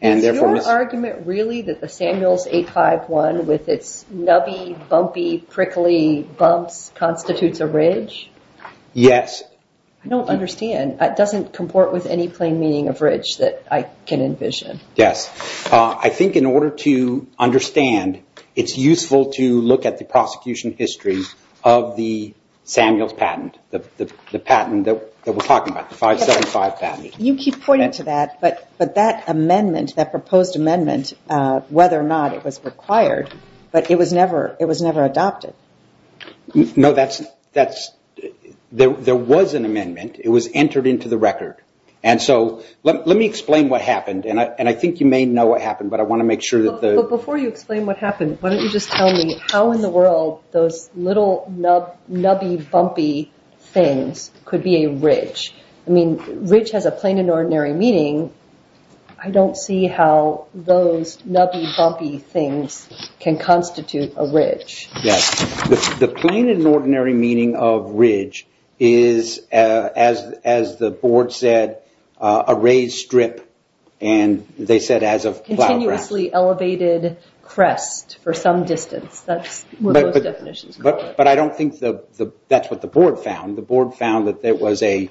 Is your argument really that the Samuels 851 with its nubby, bumpy, prickly bumps constitutes a ridge? Yes. I don't understand. It doesn't comport with any plain meaning of ridge that I can envision. Yes. I think in order to understand, it's useful to look at the prosecution history of the Samuels patent, the patent that we're talking about, the 575 patent. You keep pointing to that, but that amendment, that proposed amendment, whether or not it was required, but it was never adopted. No, there was an amendment. It was entered into the record. Let me explain what happened, and I think you may know what happened, but I want to make sure that the... Before you explain what happened, why don't you just tell me how in the world those little nubby, bumpy things could be a ridge? Ridge has a plain and ordinary meaning. I don't see how those nubby, bumpy things can constitute a ridge. Yes. The plain and ordinary meaning of ridge is, as the board said, a raised strip, and they said as a plow track. Continuously elevated crest for some distance, that's what those definitions call it. But I don't think that's what the board found. The board found that it was a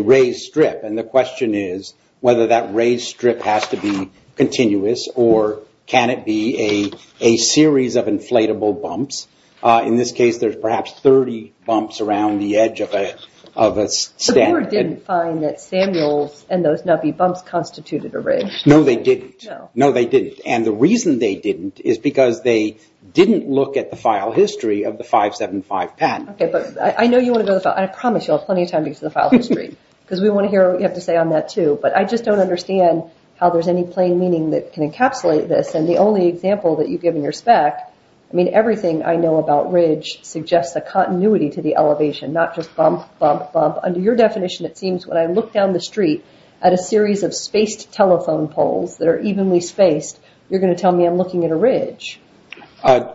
raised strip, and the question is whether that raised strip has to be continuous, or can it be a series of inflatable bumps? In this case, there's perhaps 30 bumps around the edge of a... The board didn't find that Samuels and those nubby bumps constituted a ridge. No, they didn't. No. No, they didn't. The reason they didn't is because they didn't look at the file history of the 575 patent. I know you want to go to the file... I promise you'll have plenty of time to get to the file history, because we want to hear what you have to say on that, too, but I just don't understand how there's any plain meaning that can encapsulate this. The only example that you give in your spec, everything I know about ridge suggests a continuity to the elevation, not just bump, bump, bump. Under your definition, it seems when I look down the street at a series of spaced telephone poles that are evenly spaced, you're going to tell me I'm looking at a ridge.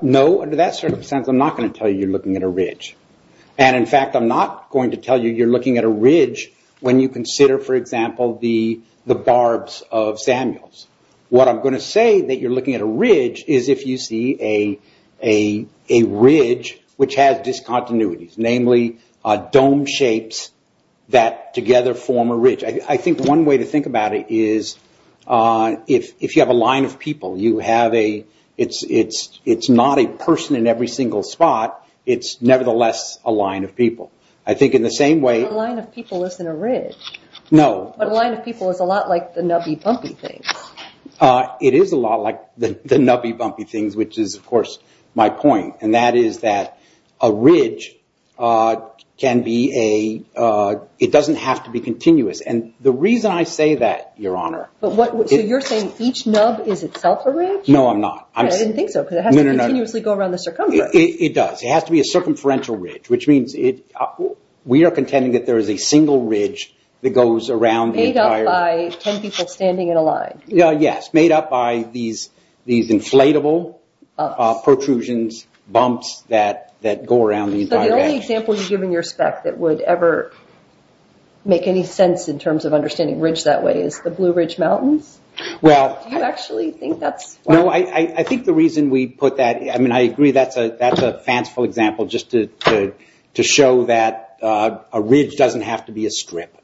No. Under that circumstance, I'm not going to tell you you're looking at a ridge. In fact, I'm not going to tell you you're looking at a ridge when you consider, for example, the barbs of Samuels. What I'm going to say that you're looking at a ridge is if you see a ridge which has discontinuities, namely dome shapes that together form a ridge. I think one way to think about it is if you have a line of people, you have a... If you have a person in every single spot, it's nevertheless a line of people. I think in the same way... A line of people isn't a ridge. No. But a line of people is a lot like the nubby, bumpy things. It is a lot like the nubby, bumpy things, which is, of course, my point. That is that a ridge can be a... It doesn't have to be continuous. The reason I say that, Your Honor... So you're saying each nub is itself a ridge? No, I'm not. I didn't think so. No, no, no. Because it has to continuously go around the circumference. It does. It has to be a circumferential ridge, which means we are contending that there is a single ridge that goes around the entire... Made up by 10 people standing in a line. Yes. Made up by these inflatable protrusions, bumps that go around the entire edge. The only example you give in your spec that would ever make any sense in terms of understanding ridge that way is the Blue Ridge Mountains. Do you actually think that's... No, I think the reason we put that... I agree that's a fanciful example just to show that a ridge doesn't have to be a strip.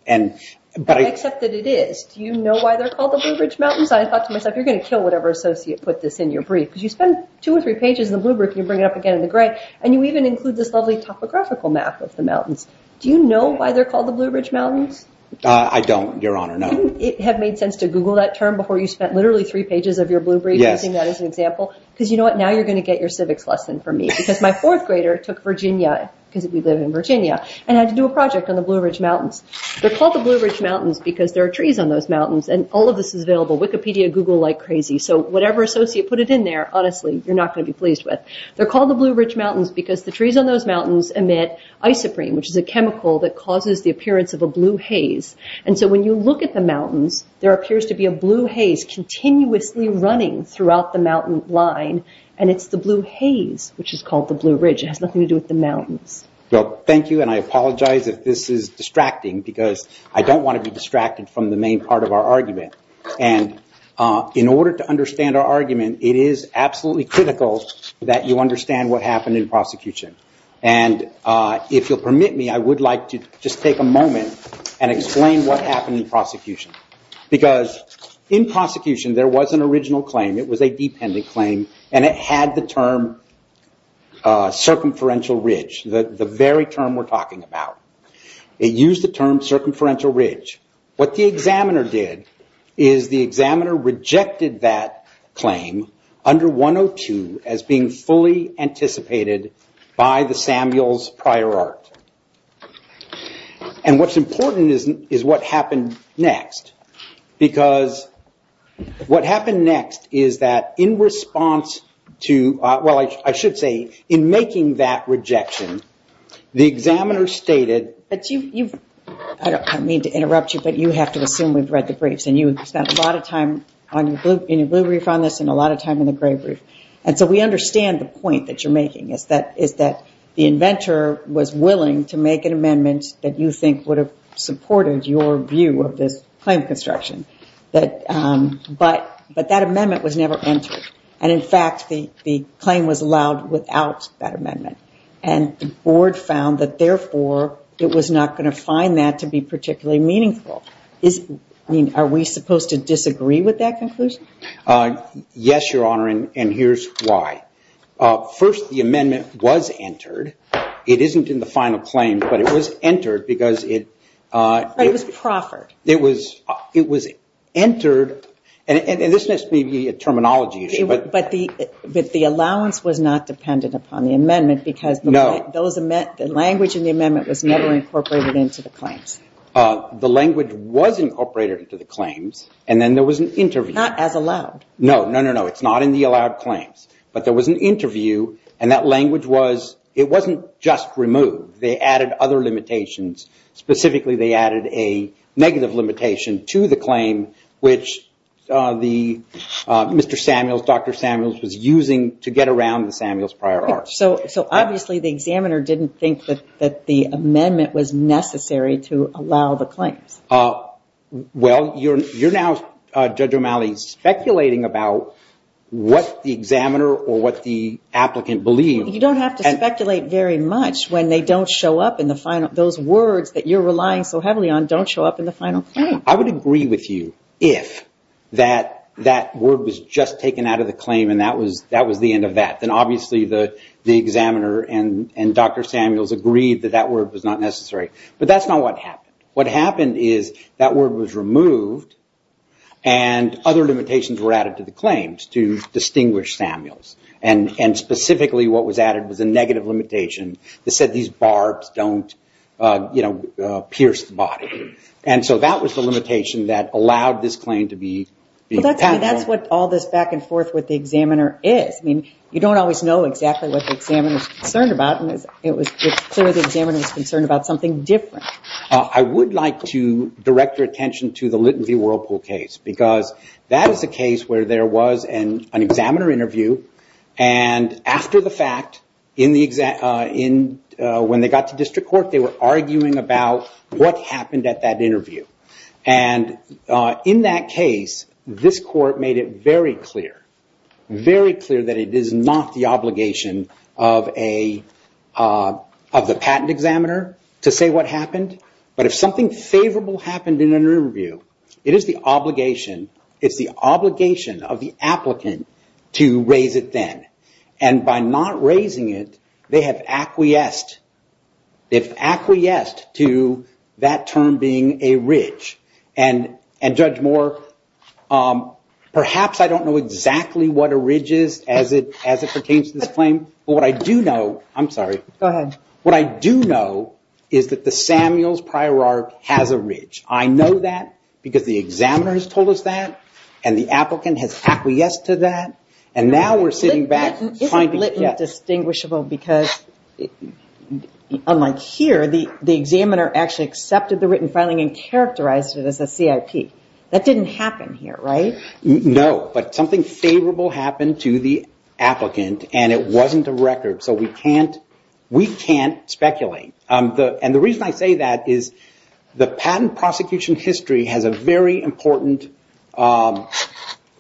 But I... I accept that it is. Do you know why they're called the Blue Ridge Mountains? I thought to myself, you're going to kill whatever associate put this in your brief because you spend two or three pages in the blue brief and you bring it up again in the gray, and you even include this lovely topographical map of the mountains. Do you know why they're called the Blue Ridge Mountains? I don't, Your Honor. No. Wouldn't it have made sense to Google that term before you spent literally three pages of your blue brief using that as an example? Yes. Because you know what? Now you're going to get your civics lesson from me. Because my fourth grader took Virginia, because we live in Virginia, and had to do a project on the Blue Ridge Mountains. They're called the Blue Ridge Mountains because there are trees on those mountains, and all of this is available. Wikipedia, Google like crazy. So whatever associate put it in there, honestly, you're not going to be pleased with. They're called the Blue Ridge Mountains because the trees on those mountains emit isoprene, which is a chemical that causes the appearance of a blue haze. So when you look at the mountains, there appears to be a blue haze continuously running throughout the mountain line, and it's the blue haze, which is called the Blue Ridge. It has nothing to do with the mountains. Well, thank you, and I apologize if this is distracting, because I don't want to be distracted from the main part of our argument. In order to understand our argument, it is absolutely critical that you understand what happened in prosecution. And if you'll permit me, I would like to just take a moment and explain what happened in prosecution. Because in prosecution, there was an original claim. It was a dependent claim, and it had the term circumferential ridge, the very term we're talking about. It used the term circumferential ridge. What the examiner did is the examiner rejected that claim under 102 as being fully anticipated by the Samuels prior art. And what's important is what happened next. Because what happened next is that in response to, well, I should say, in making that rejection, the examiner stated- I don't mean to interrupt you, but you have to assume we've read the briefs, and you've spent a lot of time in your blue brief on this and a lot of time in the gray brief. And so we understand the point that you're making, is that the inventor was willing to make an amendment that you think would have supported your view of this claim of construction. But that amendment was never entered. And in fact, the claim was allowed without that amendment. And the board found that, therefore, it was not going to find that to be particularly meaningful. Are we supposed to disagree with that conclusion? Yes, Your Honor, and here's why. First, the amendment was entered. It isn't in the final claim, but it was entered because it- But it was proffered. It was entered, and this must be a terminology issue. But the allowance was not dependent upon the amendment because the language in the amendment was never incorporated into the claims. The language was incorporated into the claims, and then there was an interview. It's not as allowed. No, no, no, no. It's not in the allowed claims. But there was an interview, and that language was, it wasn't just removed. They added other limitations. Specifically, they added a negative limitation to the claim, which the Mr. Samuels, Dr. Samuels, was using to get around the Samuels prior arts. So obviously, the examiner didn't think that the amendment was necessary to allow the claims. Well, you're now, Judge O'Malley, speculating about what the examiner or what the applicant believed. You don't have to speculate very much when they don't show up in the final, those words that you're relying so heavily on don't show up in the final claim. I would agree with you if that word was just taken out of the claim and that was the end of that. Then obviously, the examiner and Dr. Samuels agreed that that word was not necessary. But that's not what happened. What happened is that word was removed, and other limitations were added to the claims to distinguish Samuels. And specifically, what was added was a negative limitation that said these barbs don't pierce the body. And so that was the limitation that allowed this claim to be passed. That's what all this back and forth with the examiner is. You don't always know exactly what the examiner is concerned about, and it's clear the examiner was concerned about something different. I would like to direct your attention to the Litman v. Whirlpool case, because that is a case where there was an examiner interview, and after the fact, when they got to district court, they were arguing about what happened at that interview. And in that case, this court made it very clear, very clear that it is not the obligation of the patent examiner to say what happened. But if something favorable happened in an interview, it is the obligation of the applicant to raise it then. And by not raising it, they have acquiesced to that term being a ridge. And Judge Moore, perhaps I don't know exactly what a ridge is as it pertains to this claim, but what I do know, I'm sorry, what I do know is that the Samuels prior arc has a ridge. I know that because the examiner has told us that, and the applicant has acquiesced to that, and now we're sitting back trying to get... Isn't Litman distinguishable because, unlike here, the examiner actually accepted the written filing and characterized it as a CIP? That didn't happen here, right? No, but something favorable happened to the applicant, and it wasn't a record, so we can't speculate. And the reason I say that is the patent prosecution history has a very important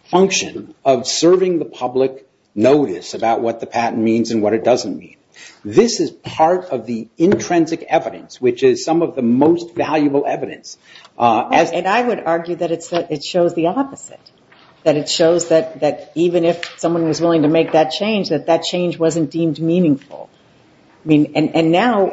function of serving the public notice about what the patent means and what it doesn't mean. This is part of the intrinsic evidence, which is some of the most valuable evidence. And I would argue that it shows the opposite, that it shows that even if someone was willing to make that change, that that change wasn't deemed meaningful. And now,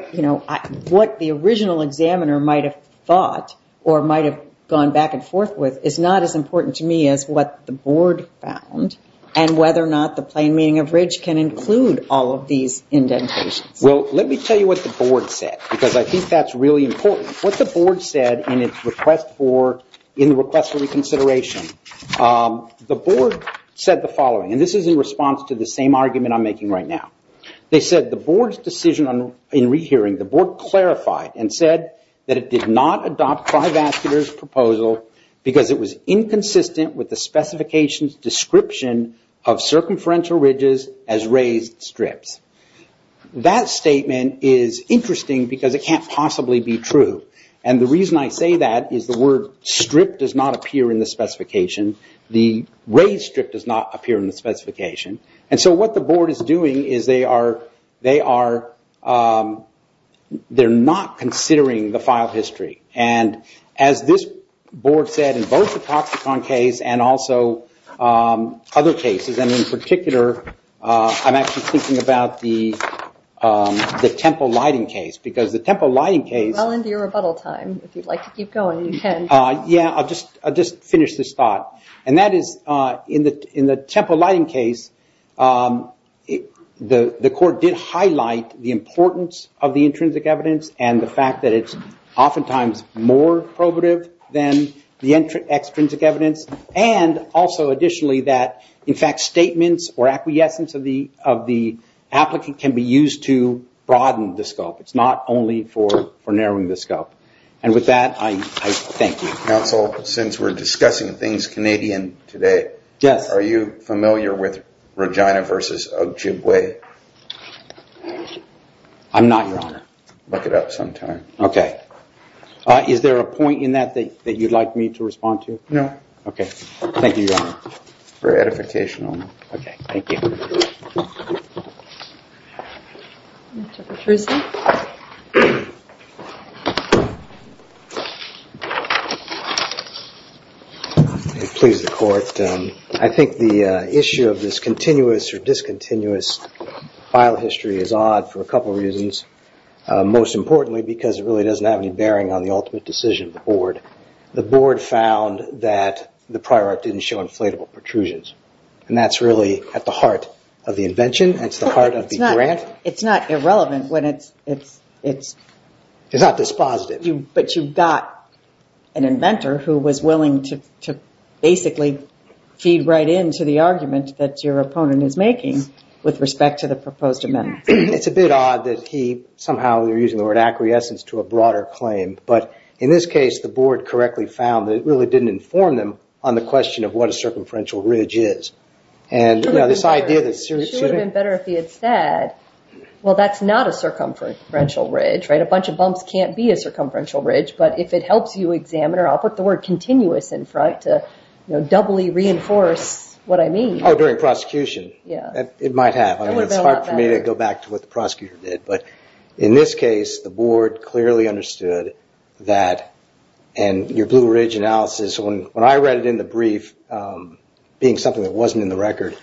what the original examiner might have thought or might have gone back and forth with is not as important to me as what the board found and whether or not the plain meaning of ridge can include all of these indentations. Well, let me tell you what the board said, because I think that's really important. What the board said in the request for reconsideration, the board said the following, and this is in response to the same argument I'm making right now. They said the board's decision in rehearing, the board clarified and said that it did not adopt TriVascular's proposal because it was inconsistent with the specification's description of circumferential ridges as raised strips. That statement is interesting because it can't possibly be true. And the reason I say that is the word strip does not appear in the specification. The raised strip does not appear in the specification. And so what the board is doing is they are not considering the file history. And as this board said, in both the Toxicon case and also other cases, and in particular, I'm actually thinking about the Temple Lighting case, because the Temple Lighting case- Well into your rebuttal time, if you'd like to keep going, you can. Yeah, I'll just finish this thought. And that is, in the Temple Lighting case, the court did highlight the importance of the intrinsic evidence and the fact that it's oftentimes more probative than the extrinsic evidence, and also additionally that, in fact, statements or acquiescence of the applicant can be used to broaden the scope. It's not only for narrowing the scope. And with that, I thank you. Counsel, since we're discussing things Canadian today, are you familiar with Regina versus Ojibwe? I'm not, Your Honor. Look it up sometime. OK. Is there a point in that that you'd like me to respond to? No. OK. Thank you, Your Honor. Very edificational. OK. Thank you. Mr. Patruski? If it pleases the court, I think the issue of this continuous or discontinuous file history is odd for a couple of reasons, most importantly because it really doesn't have any bearing on the ultimate decision of the board. The board found that the prior art didn't show inflatable protrusions. And that's really at the heart of the invention. It's the heart of the grant. It's not irrelevant when it's... It's not dispositive. But you've got an inventor who was willing to basically feed right into the argument that your opponent is making with respect to the proposed amendment. It's a bit odd that he somehow, they're using the word acquiescence to a broader claim. But in this case, the board correctly found that it really didn't inform them on the question of what a circumferential ridge is. And this idea that... It would have been better if he had said, well, that's not a circumferential ridge, right? A bunch of bumps can't be a circumferential ridge. But if it helps you examine, or I'll put the word continuous in front to doubly reinforce what I mean. Oh, during prosecution. Yeah. It might have. I mean, it's hard for me to go back to what the prosecutor did. But in this case, the board clearly understood that. And your blue ridge analysis, when I read it in the brief, being something that wasn't in the record,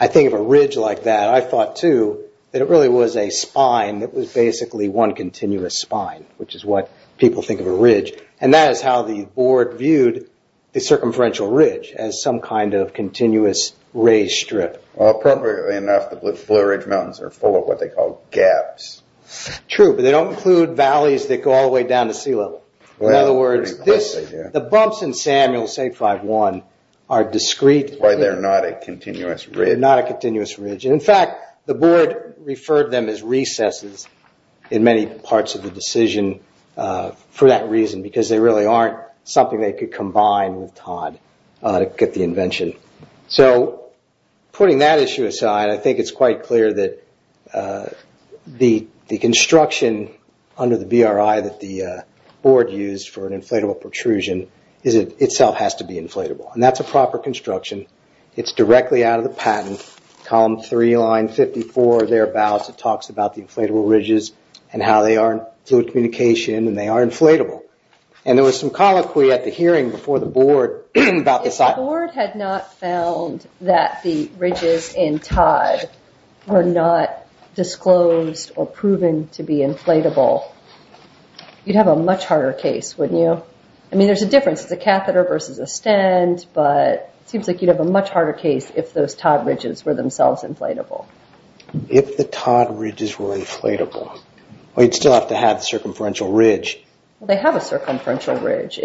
I think of a ridge like that, I thought too, that it really was a spine that was basically one continuous spine, which is what people think of a ridge. And that is how the board viewed the circumferential ridge, as some kind of continuous raised strip. Appropriately enough, the Blue Ridge Mountains are full of what they call gaps. True, but they don't include valleys that go all the way down to sea level. In other words, the bumps in Samuel State 5-1 are discreet. Which is why they're not a continuous ridge. Not a continuous ridge. And in fact, the board referred them as recesses in many parts of the decision for that reason. Because they really aren't something they could combine with Todd to get the invention. So putting that issue aside, I think it's quite clear that the construction under the BRI that the board used for an inflatable protrusion, is it itself has to be inflatable. And that's a proper construction. It's directly out of the patent, column 3, line 54, thereabouts, it talks about the inflatable ridges and how they are fluid communication and they are inflatable. And there was some colloquy at the hearing before the board about this item. If the board had not found that the ridges in Todd were not disclosed or proven to be inflatable, you'd have a much harder case, wouldn't you? I mean, there's a difference. It's a catheter versus a stent, but it seems like you'd have a much harder case if those Todd ridges were themselves inflatable. If the Todd ridges were inflatable, you'd still have to have the circumferential ridge. They have a circumferential ridge.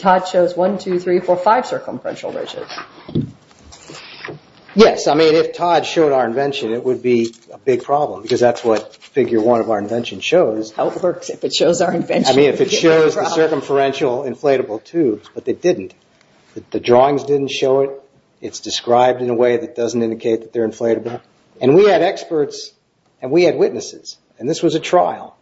Todd shows one, two, three, four, five circumferential ridges. Yes, I mean, if Todd showed our invention, it would be a big problem. Because that's what figure one of our invention shows. How it works if it shows our invention. I mean, if it shows the circumferential inflatable tubes, but they didn't. The drawings didn't show it. It's described in a way that doesn't indicate that they're inflatable. And we had experts and we had witnesses. And this was a trial.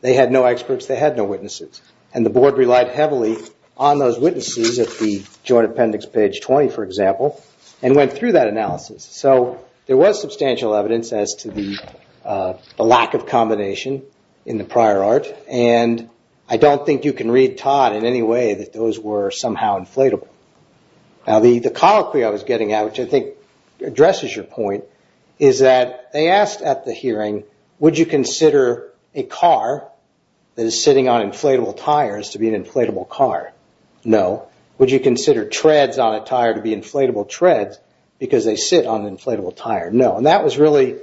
They had no experts. They had no witnesses. And the board relied heavily on those witnesses at the joint appendix page 20, for example, and went through that analysis. There was substantial evidence as to the lack of combination in the prior art. I don't think you can read Todd in any way that those were somehow inflatable. The colloquy I was getting at, which I think addresses your point, is that they asked at the hearing, would you consider a car that is sitting on inflatable tires to be an inflatable car? No. Would you consider treads on a tire to be inflatable treads because they sit on an inflatable tire? No. And that was really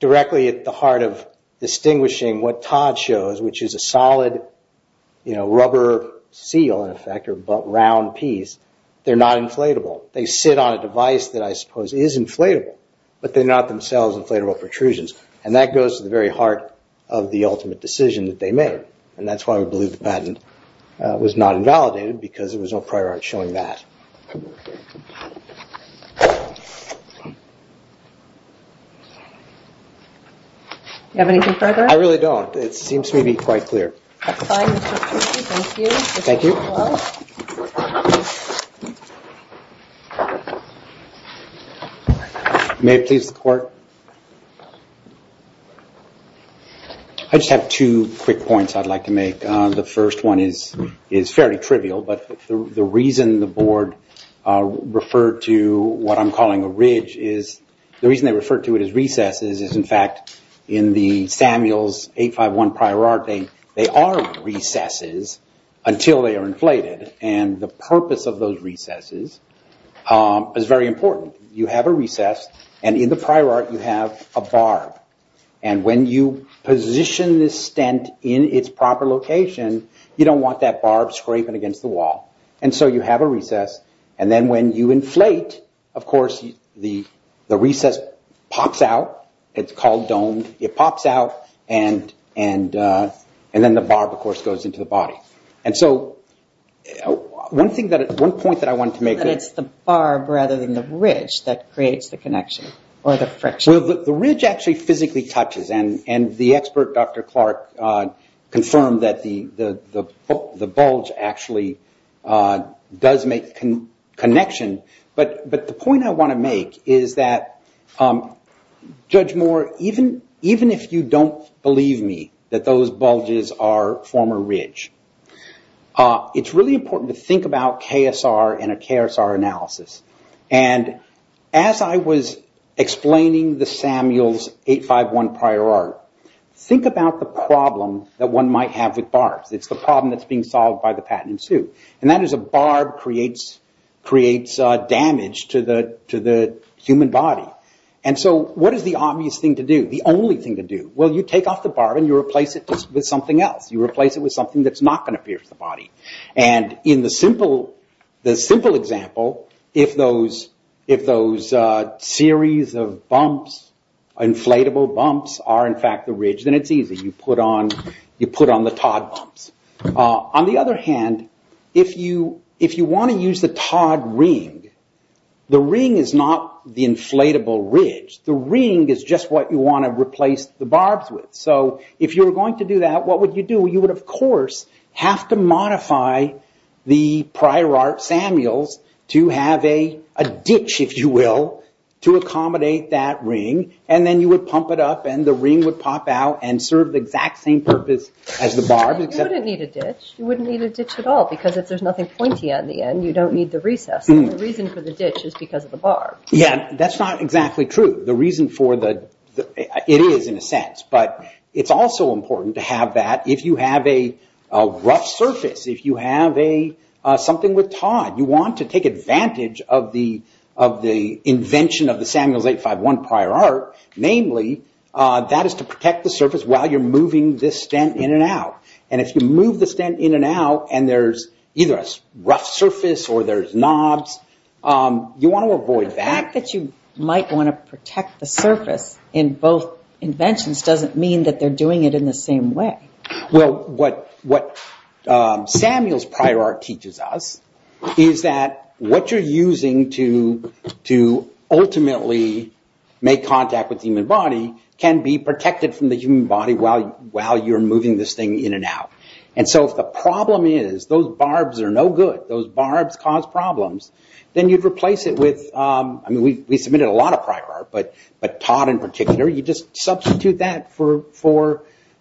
directly at the heart of distinguishing what Todd shows, which is a solid rubber seal, in effect, or round piece. They're not inflatable. They sit on a device that I suppose is inflatable, but they're not themselves inflatable protrusions. And that goes to the very heart of the ultimate decision that they made. And that's why we believe the patent was not invalidated because there was no prior art showing that. Do you have anything further? I really don't. It seems to me to be quite clear. Thank you. Mr. Poole. Thank you. Mr. Poole. May it please the court. I just have two quick points on this. I'd like to make the first one is fairly trivial, but the reason the board referred to what I'm calling a ridge is, the reason they refer to it as recesses is, in fact, in the Samuels 851 prior art, they are recesses until they are inflated. And the purpose of those recesses is very important. You have a recess, and in the prior art, you have a barb. And when you position this stent in its proper location, you don't want that barb scraping against the wall. And so you have a recess. And then when you inflate, of course, the recess pops out. It's called domed. It pops out, and then the barb, of course, goes into the body. And so one thing that at one point that I wanted to make. It's the barb rather than the ridge that creates the connection or the friction. The ridge actually physically touches, and the expert, Dr. Clark, confirmed that the bulge actually does make connection. But the point I want to make is that, Judge Moore, even if you don't believe me that those bulges are former ridge, it's really important to think about KSR and a KSR analysis. And as I was explaining the Samuels 851 prior art, think about the problem that one might have with barbs. It's the problem that's being solved by the patent in suit. And that is a barb creates damage to the human body. And so what is the obvious thing to do? The only thing to do? Well, you take off the barb, and you replace it with something else. You replace it with something that's not going to pierce the body. And in the simple example, if those series of inflatable bumps are, in fact, the ridge, then it's easy. You put on the Todd bumps. On the other hand, if you want to use the Todd ring, the ring is not the inflatable ridge. The ring is just what you want to replace the barbs with. So if you're going to do that, what would you do? You would, of course, have to modify the prior art Samuels to have a ditch, if you will, to accommodate that ring. And then you would pump it up, and the ring would pop out and serve the exact same purpose as the barb. You wouldn't need a ditch. You wouldn't need a ditch at all because if there's nothing pointy at the end, you don't need the recess. The reason for the ditch is because of the barb. That's not exactly true. The reason for the... It is, in a sense. But it's also important to have that if you have a rough surface, if you have something with Todd. You want to take advantage of the invention of the Samuels 851 prior art, namely, that is to protect the surface while you're moving this stent in and out. And if you move the stent in and out and there's either a rough surface or there's knobs, you want to avoid that. The fact that you might want to protect the surface in both inventions doesn't mean that they're doing it in the same way. What Samuels prior art teaches us is that what you're using to ultimately make contact with the human body can be protected from the human body while you're moving this thing in and out. And so if the problem is those barbs are no good, those barbs cause problems, then you'd We submitted a lot of prior art, but Todd in particular. You just substitute that for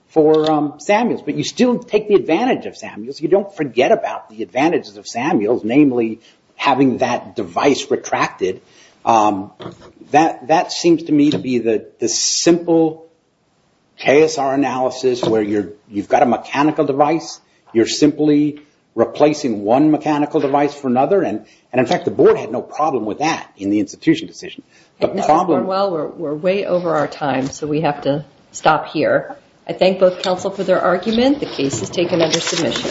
Samuels, but you still take the advantage of Samuels. You don't forget about the advantages of Samuels, namely, having that device retracted. That seems to me to be the simple KSR analysis where you've got a mechanical device. You're simply replacing one mechanical device for another. And in fact, the board had no problem with that in the institution decision. Well, we're way over our time, so we have to stop here. I thank both counsel for their argument. The case is taken under submission.